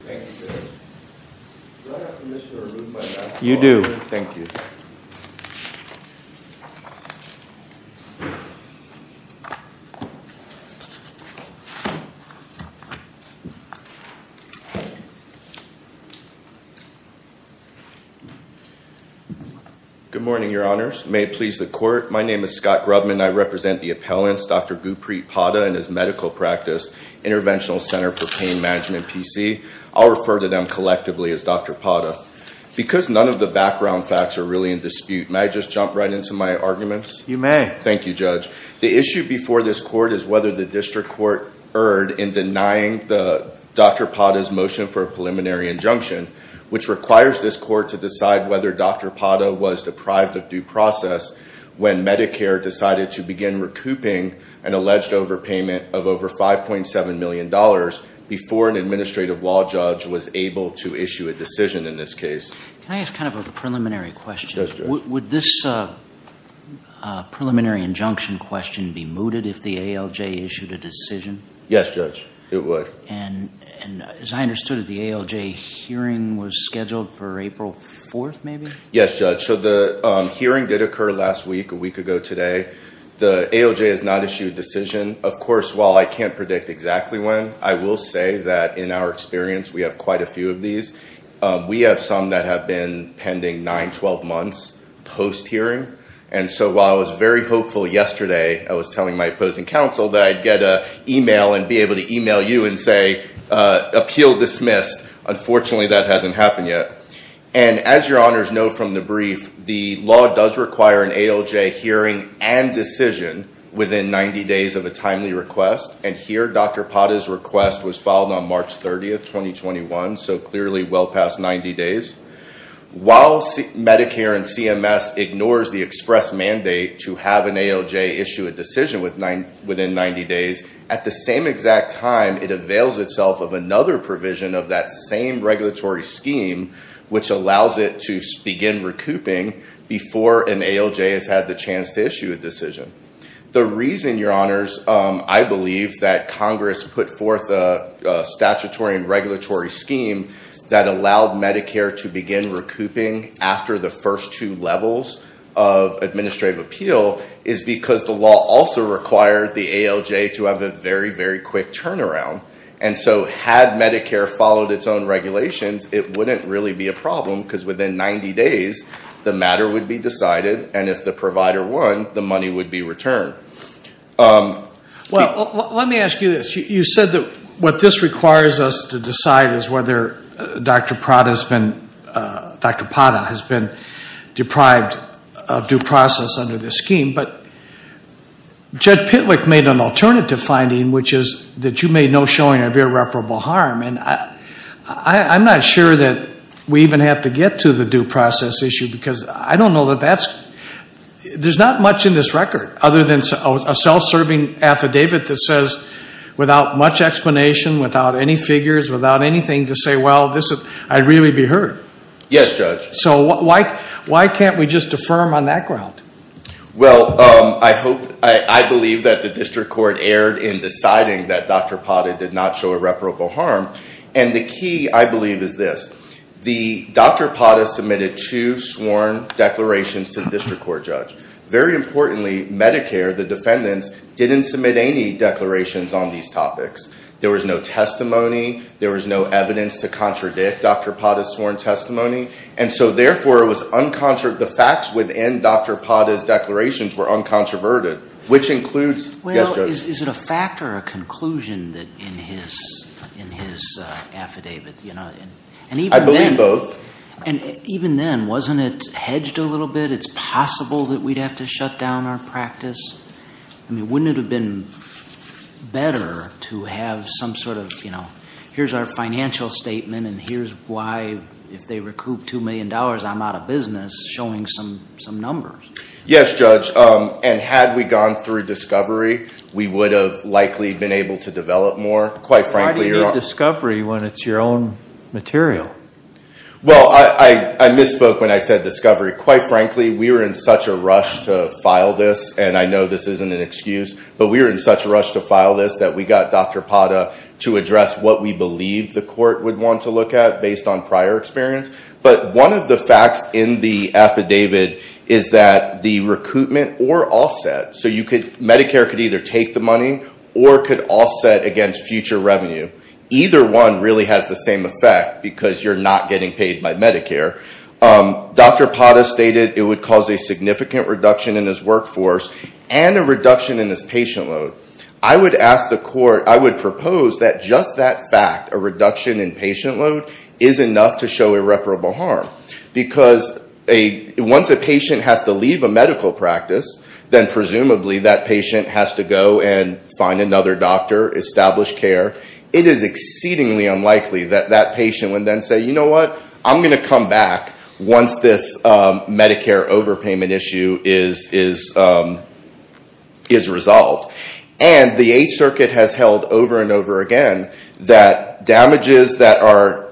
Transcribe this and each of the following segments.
Good morning, your honors. May it please the court, my name is Scott Grubman. I represent the appellants, Dr. Gupreet Padda and his medical practice, Interventional Center for I'll refer to them collectively as Dr. Padda. Because none of the background facts are really in dispute, may I just jump right into my arguments? You may. Thank you, judge. The issue before this court is whether the district court erred in denying Dr. Padda's motion for a preliminary injunction, which requires this court to decide whether Dr. Padda was deprived of due process when Medicare decided to begin recouping an alleged overpayment of over $5.7 million before an administrative law judge was able to issue a decision in this case. Can I ask kind of a preliminary question? Would this preliminary injunction question be mooted if the ALJ issued a decision? Yes, judge, it would. And as I understood it, the ALJ hearing was scheduled for April 4th, maybe? Yes, judge. So the hearing did occur last week, a week ago today. The ALJ has not issued a decision. Of course, while I can't predict exactly when, I will say that in our experience, we have quite a few of these. We have some that have been pending 9-12 months post-hearing. And so while I was very hopeful yesterday, I was telling my opposing counsel that I'd get an email and be able to email you and say, appeal dismissed. Unfortunately, that hasn't happened yet. And as your honors know from the brief, the law does require an ALJ hearing and decision within 90 days of a timely request. And here, Dr. Pata's request was filed on March 30th, 2021. So clearly well past 90 days. While Medicare and CMS ignores the express mandate to have an ALJ issue a decision within 90 days, at the same exact time, it avails itself of another provision of that same regulatory scheme, which allows it to begin recouping before an ALJ has had the chance to issue a decision. The reason, your honors, I believe that Congress put forth a statutory and regulatory scheme that allowed Medicare to begin recouping after the first two levels of administrative appeal is because the law also required the ALJ to have a very, very quick turnaround. And so had Medicare followed its own regulations, it wouldn't really be a provider one, the money would be returned. Well, let me ask you this. You said that what this requires us to decide is whether Dr. Pata has been deprived of due process under this scheme. But Judge Pitlick made an alternative finding, which is that you made no showing of irreparable harm. And I'm not sure that we even have to get to the due process issue because I don't know that that's, there's not much in this record other than a self-serving affidavit that says without much explanation, without any figures, without anything to say, well, I'd really be hurt. Yes, Judge. So why can't we just affirm on that ground? Well, I hope, I believe that the district court erred in deciding that Dr. Pata did not show irreparable harm. And the key, I believe, is this. The, Dr. Pata submitted two sworn declarations to the district court judge. Very importantly, Medicare, the defendants, didn't submit any declarations on these topics. There was no testimony. There was no evidence to contradict Dr. Pata's sworn testimony. And so therefore, it was uncontro- the facts within Dr. Pata's declarations were uncontroverted, which includes- Is there a conclusion that in his, in his affidavit, you know, and even then- I believe both. And even then, wasn't it hedged a little bit? It's possible that we'd have to shut down our practice? I mean, wouldn't it have been better to have some sort of, you know, here's our financial statement and here's why if they recoup $2 million, I'm out of business, showing some, some numbers? Yes, Judge. And had we gone through discovery, we would have likely been able to develop more. Quite frankly- Why do you do discovery when it's your own material? Well, I misspoke when I said discovery. Quite frankly, we were in such a rush to file this, and I know this isn't an excuse, but we were in such a rush to file this that we got Dr. Pata to address what we believe the court would want to look at based on prior experience. But one of the facts in the affidavit is that the recoupment or offset. So you could, Medicare could either take the money or could offset against future revenue. Either one really has the same effect because you're not getting paid by Medicare. Dr. Pata stated it would cause a significant reduction in his workforce and a reduction in his patient load. I would ask the court, I would propose that just that fact, a reduction in patient load, is enough to show irreparable harm. Because once a patient has to leave a medical practice, then presumably that patient has to go and find another doctor, establish care. It is exceedingly unlikely that that patient would then say, you know what, I'm going to come back once this Medicare overpayment issue is resolved. And the Eighth Circuit has held over and over again that damages that are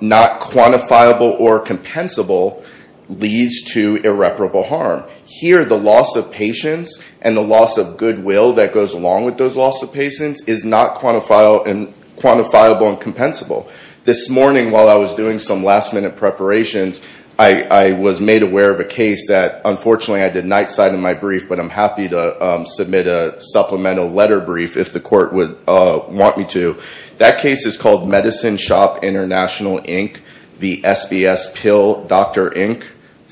not quantifiable or compensable leads to irreparable harm. Here the loss of patience and the loss of goodwill that goes along with those loss of patience is not quantifiable and compensable. This morning while I was doing some last minute preparations, I was made aware of a case that unfortunately I did nightside in my brief, but I'm happy to submit a supplemental letter brief if the court would want me to. That case is called Medicine Shop International, Inc. v. SBS Pill, Dr. Inc.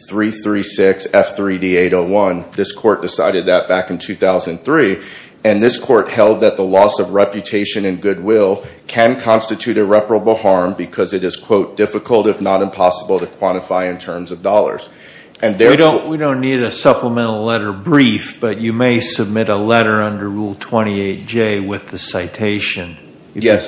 336 F3D801. This court decided that back in 2003. And this court held that the loss of reputation and goodwill can constitute irreparable harm because it is, quote, difficult if not impossible to quantify in terms of dollars. We don't need a supplemental letter brief, but you may submit a letter under Rule 28J with the citation. Yes,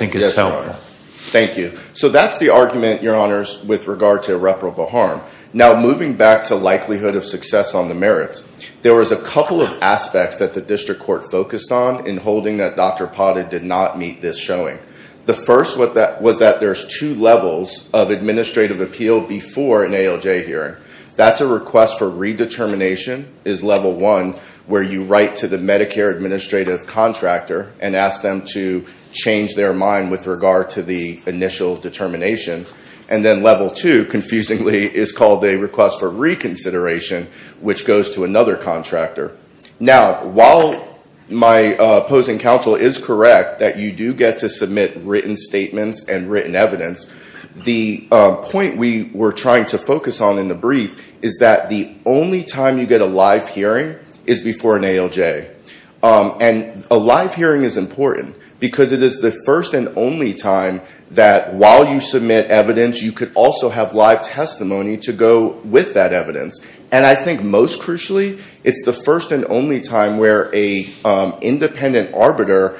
thank you. So that's the argument, Your Honors, with regard to irreparable harm. Now moving back to likelihood of success on the merits, there was a couple of aspects that the district court focused on in holding that Dr. Pata did not meet this showing. The first was that there's two levels of administrative appeal before an ALJ hearing. That's a request for redetermination, is Level 1, where you write to the Medicare administrative contractor and ask them to change their mind with regard to the initial determination. And then Level 2, confusingly, is called a request for reconsideration, which goes to another contractor. Now, while my opposing counsel is correct that you do get to submit written statements and written evidence, the point we were trying to focus on in the brief is that the only time you get a live hearing is before an ALJ. And a live hearing is important because it is the first and only time that while you submit evidence, you could also have live testimony to go with that evidence. And I think most crucially, it's the first and only time where an independent arbiter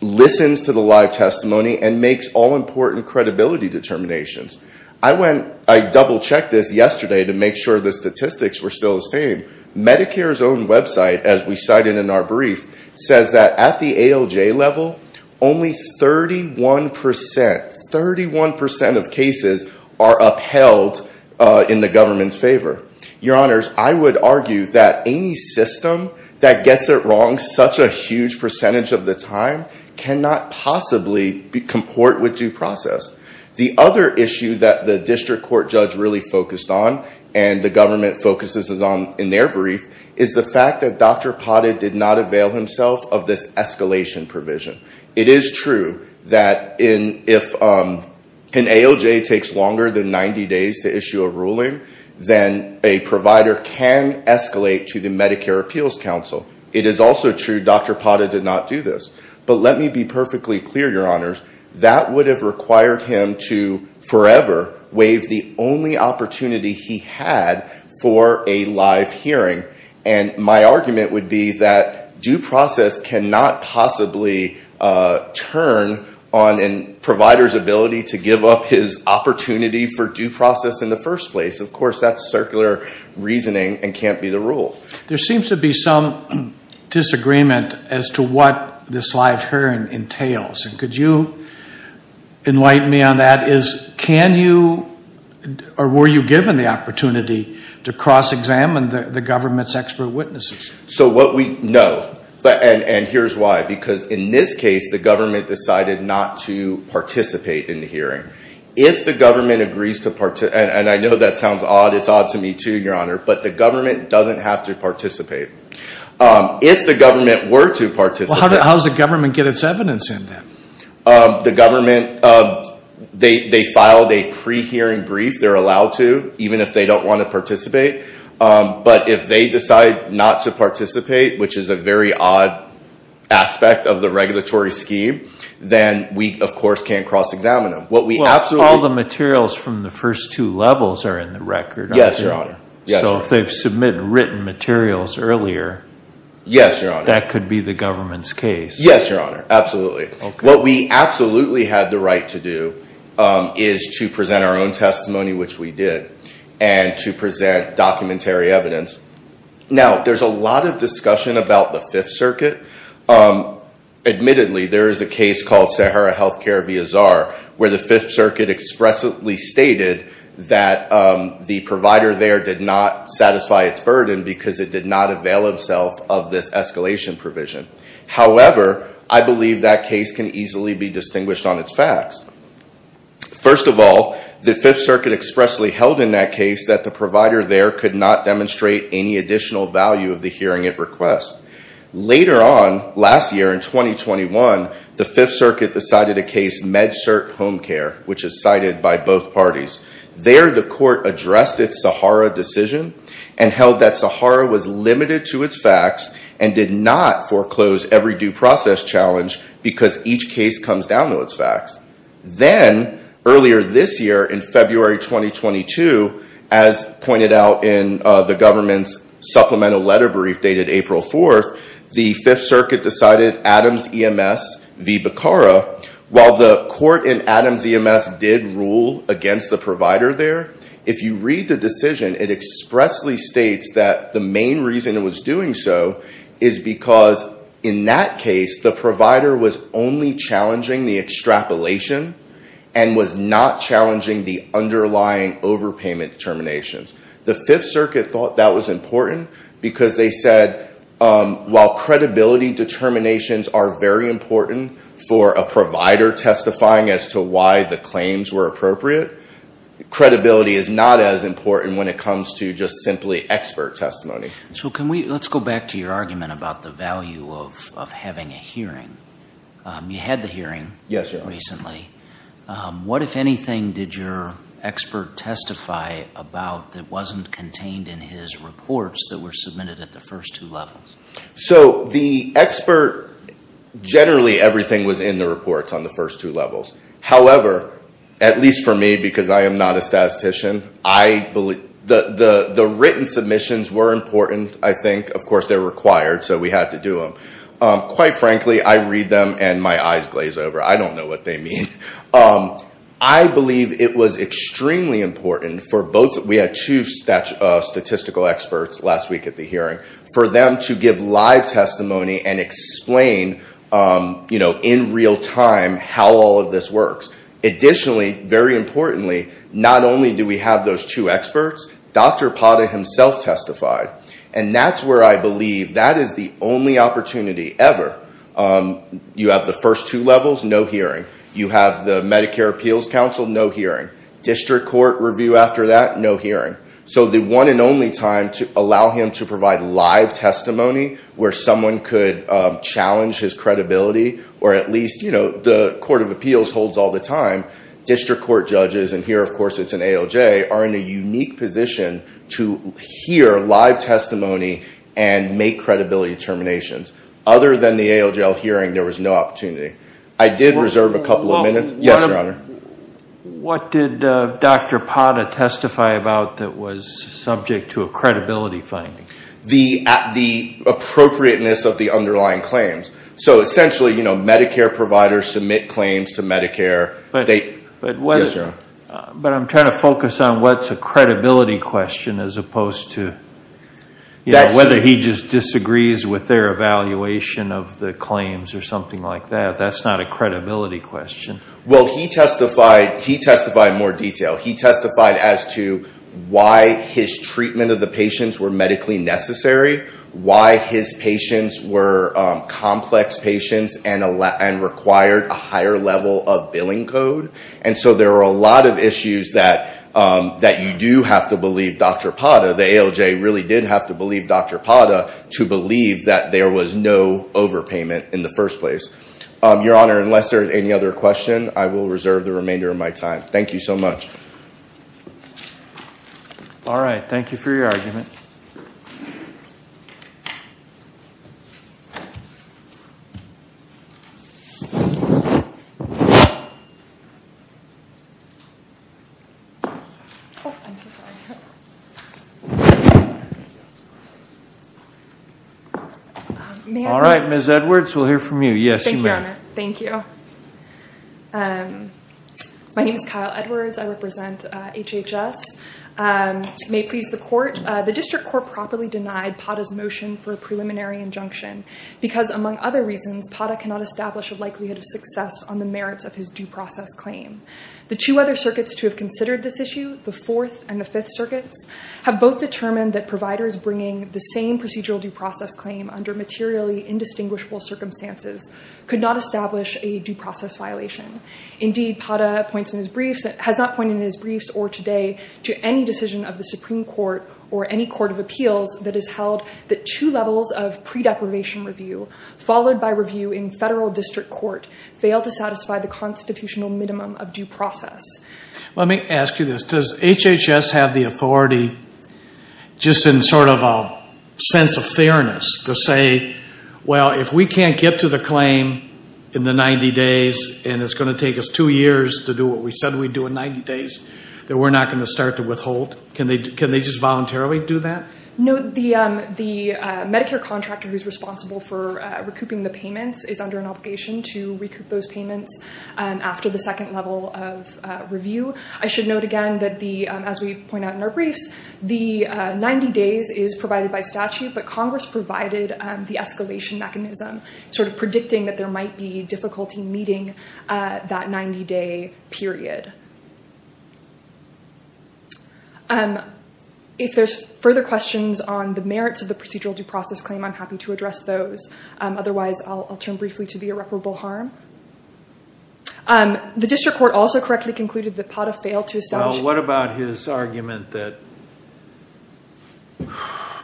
listens to the live testimony and makes all important credibility determinations. I went, I double-checked this yesterday to make sure the statistics were still the same. Medicare's own website, as we cited in our brief, says that at the ALJ level, only 31 percent, 31 percent of cases are upheld in the government's favor. Your Honors, I would argue that any system that gets it wrong such a huge percentage of the time cannot possibly comport with due process. The other issue that the district court judge really focused on, and the government focuses on in their brief, is the fact that Dr. Pate did not avail himself of this escalation provision. It is true that if an ALJ takes longer than 90 days to issue a ruling, then a provider can escalate to the Medicare Appeals Council. It is also true Dr. Pate did not do this. But let me be perfectly clear, Your Honors, that would have required him to forever waive the only opportunity he had for a live hearing. And my argument would be that due process cannot possibly turn on a provider's ability to give up his opportunity for due process in the first place. Of course, that's circular reasoning and can't be the rule. There seems to be some disagreement as to what this live hearing entails. Could you enlighten me on that? Can you, or were you given the opportunity to cross-examine the government's expert witnesses? So what we know, and here's why, because in this case the government decided not to participate in the hearing. If the government agrees to participate, and I know that sounds odd, it's odd to me too, Your Honor, but the government doesn't have to participate. If the government were to participate... How does the government get its evidence in then? The government, they filed a pre-hearing brief. They're allowed to, even if they don't want to participate. But if they decide not to participate, which is a very odd aspect of the regulatory scheme, then we, of course, can't cross-examine them. Well, all the materials from the first two levels are in the record, aren't they? Yes, Your Honor. So if they've submitted written materials earlier... Yes, Your Honor. ...that could be the government's case. Yes, Your Honor, absolutely. What we absolutely had the right to do is to present our own testimony, which we did, and to present documentary evidence. Now, there's a lot of discussion about the Fifth Circuit. Admittedly, there is a case called Sahara Healthcare v. Azhar, where the Fifth Circuit expressively stated that the provider there did not satisfy its burden because it did not avail itself of this escalation provision. However, I believe that case can easily be distinguished on its facts. First of all, the Fifth Circuit expressly held in that case that the provider there could not demonstrate any additional value of the hearing it requests. Later on, last year in 2021, the Fifth Circuit decided a case, MedCert Home Care, which is cited by both parties. There, the court addressed its Sahara decision and held that Sahara was limited to its facts and did not foreclose every due process challenge because each case comes down to its facts. Then, earlier this year in February 2022, as pointed out in the government's supplemental letter brief dated April 4th, the Fifth Circuit decided Adams EMS v. Bacara. While the court in Adams EMS did rule against the provider there, if you read the decision, it expressly states that the main reason it was doing so is because in that case, the provider was only challenging the extrapolation and was not challenging the underlying overpayment determinations. The Fifth Circuit thought that was important because they said, while credibility determinations are very important for a provider testifying as to the claims were appropriate, credibility is not as important when it comes to just simply expert testimony. Let's go back to your argument about the value of having a hearing. You had the hearing recently. What, if anything, did your expert testify about that wasn't contained in his reports that were submitted at the first two levels? The expert, generally, everything was in the reports on the first two levels. However, at least for me, because I am not a statistician, the written submissions were important, I think. Of course, they're required, so we had to do them. Quite frankly, I read them and my eyes glaze over. I don't know what they mean. I believe it was extremely important for both. We had two statistical experts last week at the hearing. For them to give live testimony and explain in real time how all of this works. Additionally, very importantly, not only do we have those two experts, Dr. Pata himself testified. And that's where I believe that is the only opportunity ever. You have the first two levels, no hearing. You have the Medicare Appeals Council, no hearing. District Court review after that, no hearing. So the one and only time to allow him to provide live testimony, where someone could challenge his credibility, or at least, you know, the Court of Appeals holds all the time. District Court judges, and here, of course, it's an ALJ, are in a unique position to hear live testimony and make credibility determinations. Other than the ALJL hearing, there was no opportunity. I did reserve a couple of minutes. Yes, Your Honor. What did Dr. Pata testify about that was subject to a credibility finding? The appropriateness of the underlying claims. So essentially, you know, Medicare providers submit claims to Medicare. But I'm trying to focus on what's a credibility question as opposed to, you know, whether he just disagrees with their evaluation of the claims or something like that. That's not a credibility question. Well, he testified more detail. He testified as to why his treatment of the patients were medically necessary, why his patients were complex patients and required a higher level of billing code. And so there are a lot of issues that you do have to believe Dr. Pata, the ALJ really did have to believe Dr. Pata, to believe that there was no overpayment in the first place. Your Honor, unless there is any other question, I will reserve the remainder of my time. Thank you so much. All right. Thank you for your argument. All right, Ms. Edwards, we'll hear from you. Thank you. My name is Kyle Edwards. I represent HHS. May it please the court, the district court properly denied Pata's motion for a preliminary injunction because among other reasons, Pata cannot establish a likelihood of success on the merits of his due process claim. The two other circuits to have considered this issue, the Fourth and the Fifth Circuits, have both determined that providers bringing the same procedural due process claim under materially indistinguishable circumstances could not establish a due process violation. Indeed, Pata has not pointed in his briefs or today to any decision of the Supreme Court or any court of appeals that has held that two levels of pre-deprivation review followed by review in federal district court fail to satisfy the constitutional minimum of due process. Let me ask you this. Does HHS have the authority, just in sort of a sense of fairness, to say, well, if we can't get to the claim in the 90 days and it's going to take us two years to do what we said we'd do in 90 days, that we're not going to start to withhold? Can they just voluntarily do that? No, the Medicare contractor who's responsible for recouping the payments is under an obligation to recoup those payments after the second level of review. I should note again that, as we point out in our briefs, the 90 days is provided by statute, but Congress provided the escalation mechanism, sort of predicting that there might be difficulty meeting that 90-day period. If there's further questions on the merits of the procedural due process claim, I'm happy to address those. Otherwise, I'll turn briefly to the irreparable harm. The district court also correctly concluded that Pata failed to establish...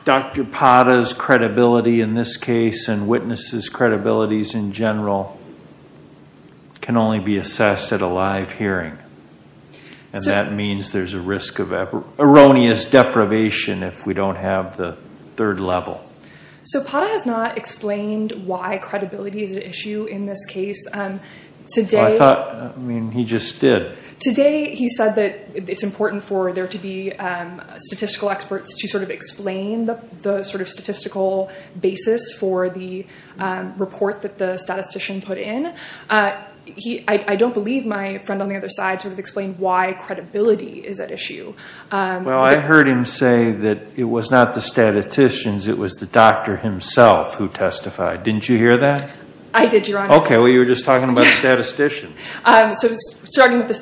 Dr. Pata's credibility in this case and witnesses' credibilities in general can only be assessed at a live hearing. And that means there's a risk of erroneous deprivation if we don't have the third level. So Pata has not explained why credibility is an issue in this case. Today... I mean, he just did. Today, he said that it's important for there to be statistical experts to sort of explain the sort of statistical basis for the report that the statistician put in. I don't believe my friend on the other side sort of explained why credibility is at issue. Well, I heard him say that it was not the statisticians, it was the doctor himself who testified. Didn't you hear that? I did, Your Honor. Okay, well, you were just talking about statisticians. So starting with the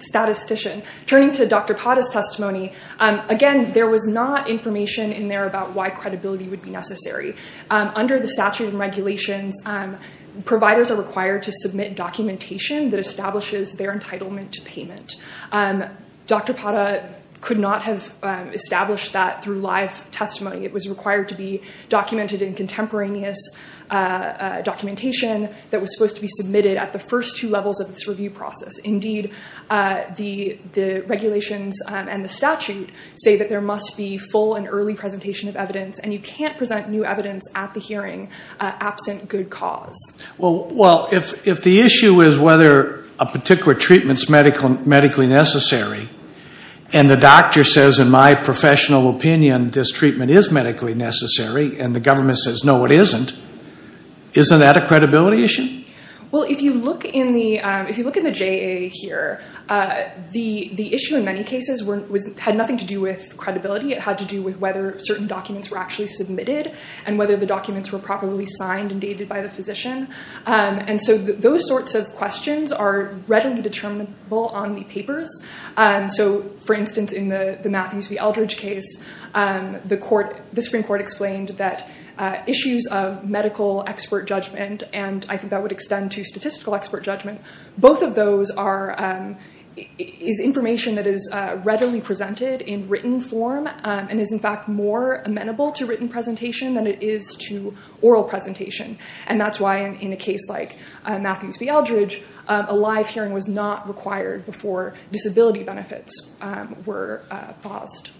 statistician. Turning to Dr. Pata's testimony, again, there was not information in there about why credibility would be necessary. Under the statute of regulations, providers are required to submit documentation that establishes their entitlement to payment. Dr. Pata could not have established that through live testimony. It was required to be documented in contemporaneous documentation that was supposed to be submitted at the first two levels of this review process. Indeed, the regulations and the statute say that there must be full and early presentation of evidence, and you can't present new evidence at the hearing absent good cause. Well, if the issue is whether a particular treatment's medically necessary and the doctor says, in my professional opinion, this treatment is medically necessary and the government says, no, it isn't, isn't that a credibility issue? Well, if you look in the JA here, the issue in many cases had nothing to do with credibility. It had to do with whether certain documents were actually submitted and whether the documents were properly signed and dated by the physician. And so those sorts of questions are readily determinable on the papers. So, for instance, in the Matthews v. Eldridge case, the Supreme Court explained that issues of medical expert judgment, and I think that would extend to statistical expert judgment, both of those is information that is readily presented in written form and is, in fact, more amenable to written presentation than it is to oral presentation. And that's why in a case like Matthews v. Eldridge, a live hearing was not required before disability benefits were paused.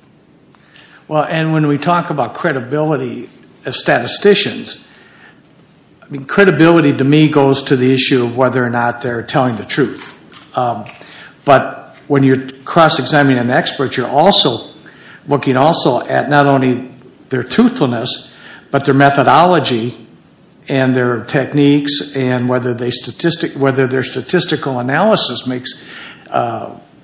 Well, and when we talk about credibility as statisticians, I mean, credibility to me goes to the issue of whether or not they're telling the truth. But when you're cross-examining an expert, you're also looking also at not only their truthfulness, but their methodology and their techniques and whether their statistical analysis makes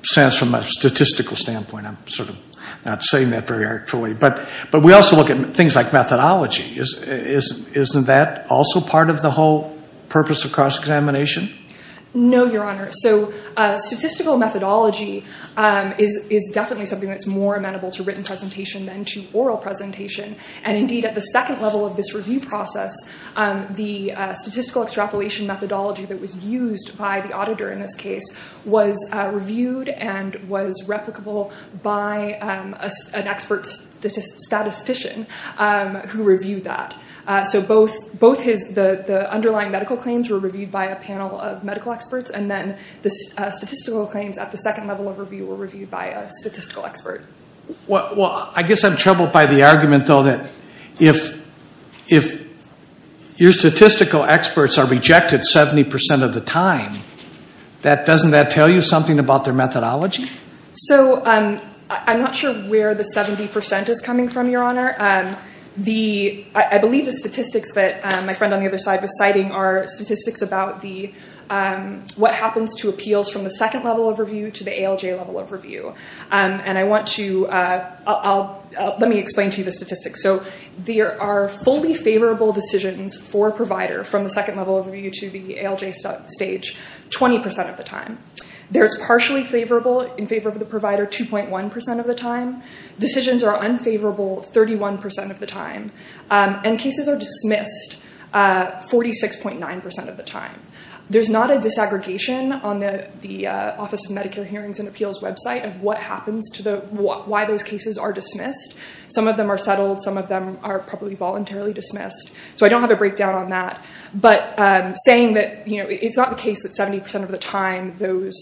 sense from a statistical standpoint. I'm sort of not saying that very artfully, but we also look at things like methodology. Isn't that also part of the whole purpose of cross-examination? No, Your Honor. So statistical methodology is definitely something that's more amenable to written presentation than to oral presentation. And indeed, at the second level of this review process, the statistical extrapolation methodology that was used by the auditor in this case was reviewed and was replicable by an expert statistician who reviewed that. So both the underlying medical claims were reviewed by a panel of medical experts, and then the statistical claims at the second level of review were reviewed by a statistical expert. Well, I guess I'm troubled by the argument, though, that if your statistical experts are rejected 70% of the time, doesn't that tell you something about their methodology? So I'm not sure where the 70% is coming from, Your Honor. The, I believe the statistics that my friend on the other side was citing are statistics about what happens to appeals from the second level of review to the ALJ level of review. And I want to, let me explain to you the statistics. So there are fully favorable decisions for a provider from the second level of review to the ALJ stage 20% of the time. There's partially favorable in favor of the provider 2.1% of the time. Decisions are unfavorable 31% of the time. And cases are dismissed 46.9% of the time. There's not a disaggregation on the Office of Medicare Hearings and Appeals website of what happens to the, why those cases are dismissed. Some of them are settled. Some of them are probably voluntarily dismissed. So I don't have a breakdown on that. But saying that it's not the case that 70% of the time those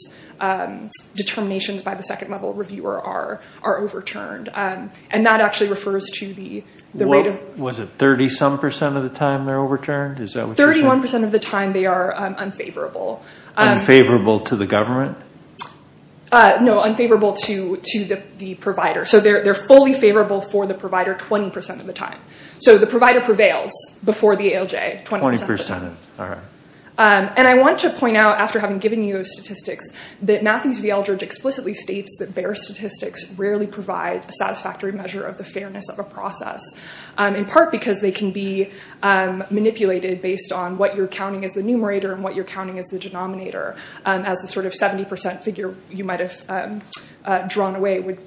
determinations by the second level reviewer are overturned. And that actually refers to the rate of- Was it 30 some percent of the time they're overturned? Is that what you're saying? 31% of the time they are unfavorable. Unfavorable to the government? No, unfavorable to the provider. So they're fully favorable for the provider 20% of the time. So the provider prevails before the ALJ 20% of the time. 20%, all right. And I want to point out after having given you those statistics that Matthews v. Eldredge explicitly states that bare statistics rarely provide a satisfactory measure of the fairness of a process. In part because they can be manipulated based on what you're counting as the numerator and what you're counting as the denominator as the sort of 70% figure you might have drawn away would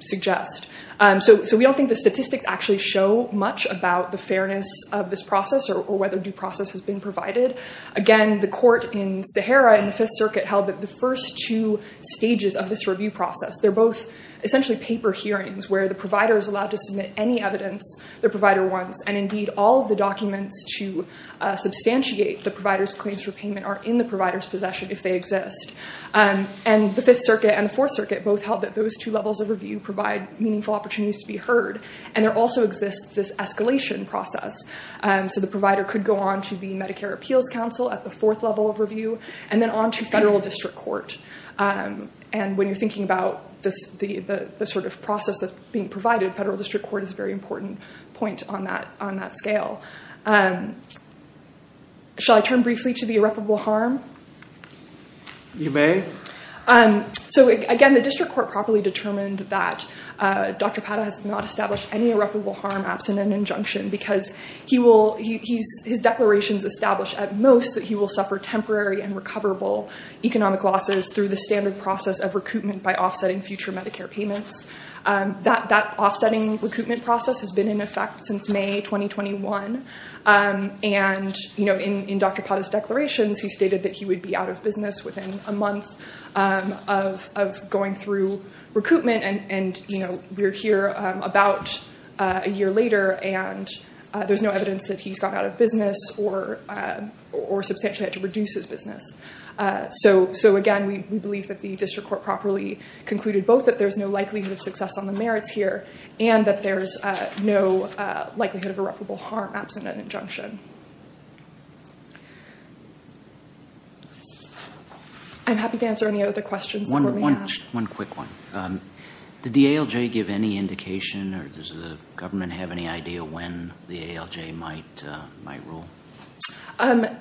suggest. So we don't think the statistics actually show much about the fairness of this process or whether due process has been provided. Again, the court in Sahara in the Fifth Circuit held that the first two stages of this review process, they're both essentially paper hearings where the provider is allowed to submit any evidence their provider wants. And indeed, all of the documents to substantiate the provider's claims for payment are in the provider's possession if they exist. And the Fifth Circuit and the Fourth Circuit both held that those two levels of review provide meaningful opportunities to be heard. And there also exists this escalation process. So the provider could go on to the Medicare Appeals Council at the fourth level of review, and then on to federal district court. And when you're thinking about the sort of process that's being provided, federal district court is a very important point on that scale. Shall I turn briefly to the irreparable harm? You may. So again, the district court properly determined that Dr. Pata has not established any irreparable harm absent an injunction, because his declarations establish at most that he will suffer temporary and recoverable economic losses through the standard process of recoupment by offsetting future Medicare payments. That offsetting recoupment process has been in effect since May 2021. And in Dr. Pata's declarations, he stated that he would be out of business within a month of going through recoupment. And we're here about a year later, and there's no evidence that he's gone out of business or substantially had to reduce his business. So again, we believe that the district court properly concluded both that there's no likelihood of success on the merits here, and that there's no likelihood of irreparable harm absent an injunction. I'm happy to answer any other questions. One quick one. Did the ALJ give any indication, or does the government have any idea when the ALJ might rule?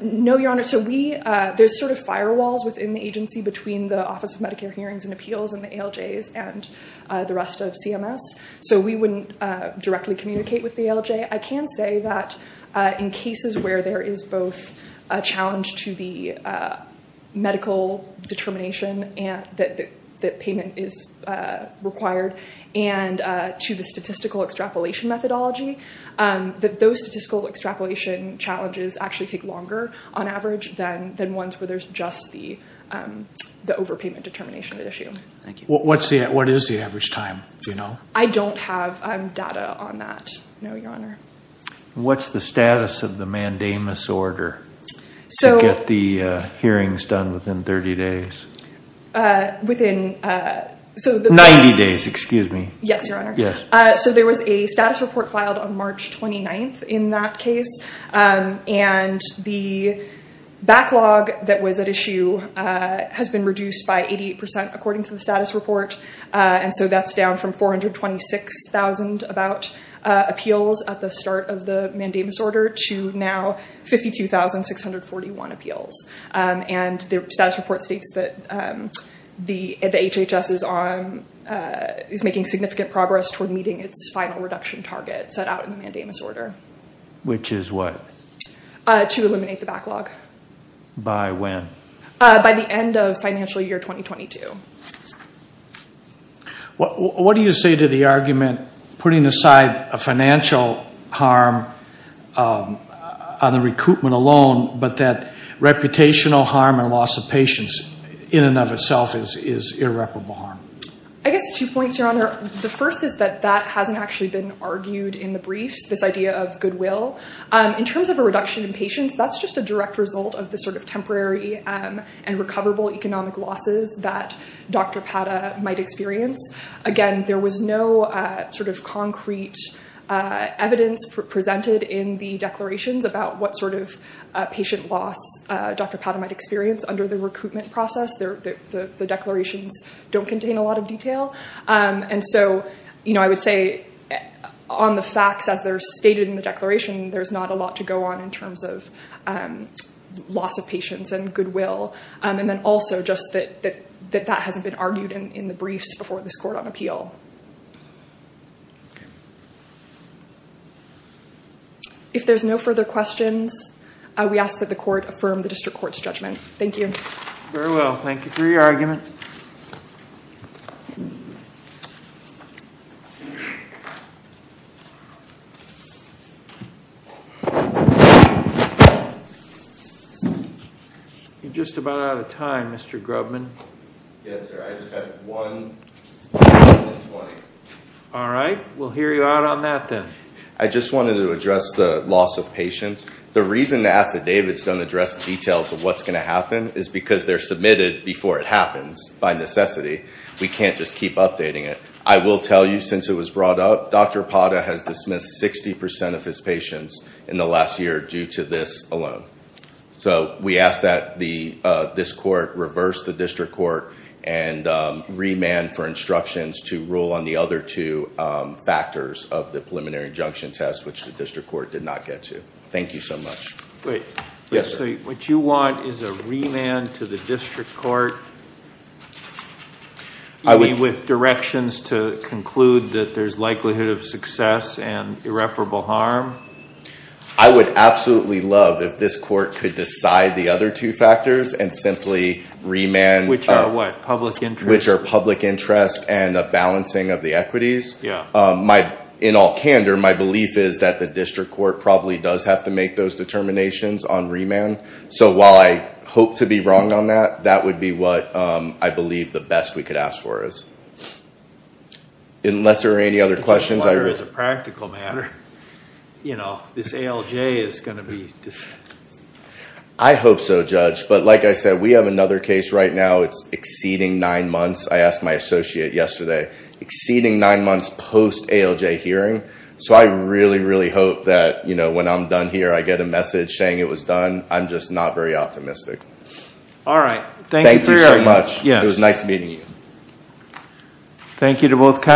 No, Your Honor. So there's sort of firewalls within the agency between the Office of Medicare Hearings and Appeals and the ALJs and the rest of CMS. So we wouldn't directly communicate with the ALJ. I can say that in cases where there is both a challenge to the medical determination that payment is required and to the statistical extrapolation methodology, that those statistical extrapolation challenges actually take longer on average than ones where there's just the overpayment determination issue. Thank you. What is the average time? Do you know? I don't have data on that, no, Your Honor. What's the status of the mandamus order? So get the hearings done within 30 days. Within, so the- 90 days, excuse me. Yes, Your Honor. So there was a status report filed on March 29th in that case. And the backlog that was at issue has been reduced by 88% according to the status report. And so that's down from 426,000 about appeals at the start of the mandamus order to now 52,641 appeals. And the status report states that the HHS is making significant progress toward meeting its final reduction target set out in the mandamus order. Which is what? To eliminate the backlog. By when? What do you say to the argument, putting aside a financial harm on the recoupment alone, but that reputational harm and loss of patients in and of itself is irreparable harm? I guess two points, Your Honor. The first is that that hasn't actually been argued in the briefs, this idea of goodwill. In terms of a reduction in patients, that's just a direct result of the sort of temporary and recoverable economic losses that Dr. Pata might experience. Again, there was no sort of concrete evidence presented in the declarations about what sort of patient loss Dr. Pata might experience under the recruitment process. The declarations don't contain a lot of detail. And so I would say on the facts as they're stated in the declaration, there's not a lot to go on in terms of loss of patients and goodwill. And then also just that that hasn't been argued in the briefs before this court on appeal. If there's no further questions, we ask that the court affirm the district court's judgment. Thank you. Very well. Thank you for your argument. You're just about out of time, Mr. Grubman. Yes, sir. I just have one. All right. We'll hear you out on that then. I just wanted to address the loss of patients. The reason the affidavits don't address details of what's going to happen is because they're submitted before it happens by necessity. We can't just keep updating it. I will tell you since it was brought up, Dr. Pata has dismissed 60% of his patients in the last year due to this alone. So we ask that this court reverse the district court and remand for instructions to rule on the other two factors of the preliminary injunction test, which the district court did not get to. Thank you so much. Great. Yes, sir. What you want is a remand to the district court with directions to conclude that there's likelihood of success and irreparable harm. I would absolutely love if this court could decide the other two factors and simply remand- Which are what? Public interest? Which are public interest and a balancing of the equities. In all candor, my belief is that the district court probably does have to make those determinations on remand. So while I hope to be wrong on that, that would be what I believe the best we could ask for is. Unless there are any other questions. As a practical matter, this ALJ is going to be- I hope so, Judge. But like I said, we have another case right now. It's exceeding nine months. I asked my associate yesterday. Exceeding nine months post-ALJ hearing. So I really, really hope that when I'm done here, I get a message saying it was done. I'm just not very optimistic. All right. Thank you so much. It was nice meeting you. Thank you to both counsel.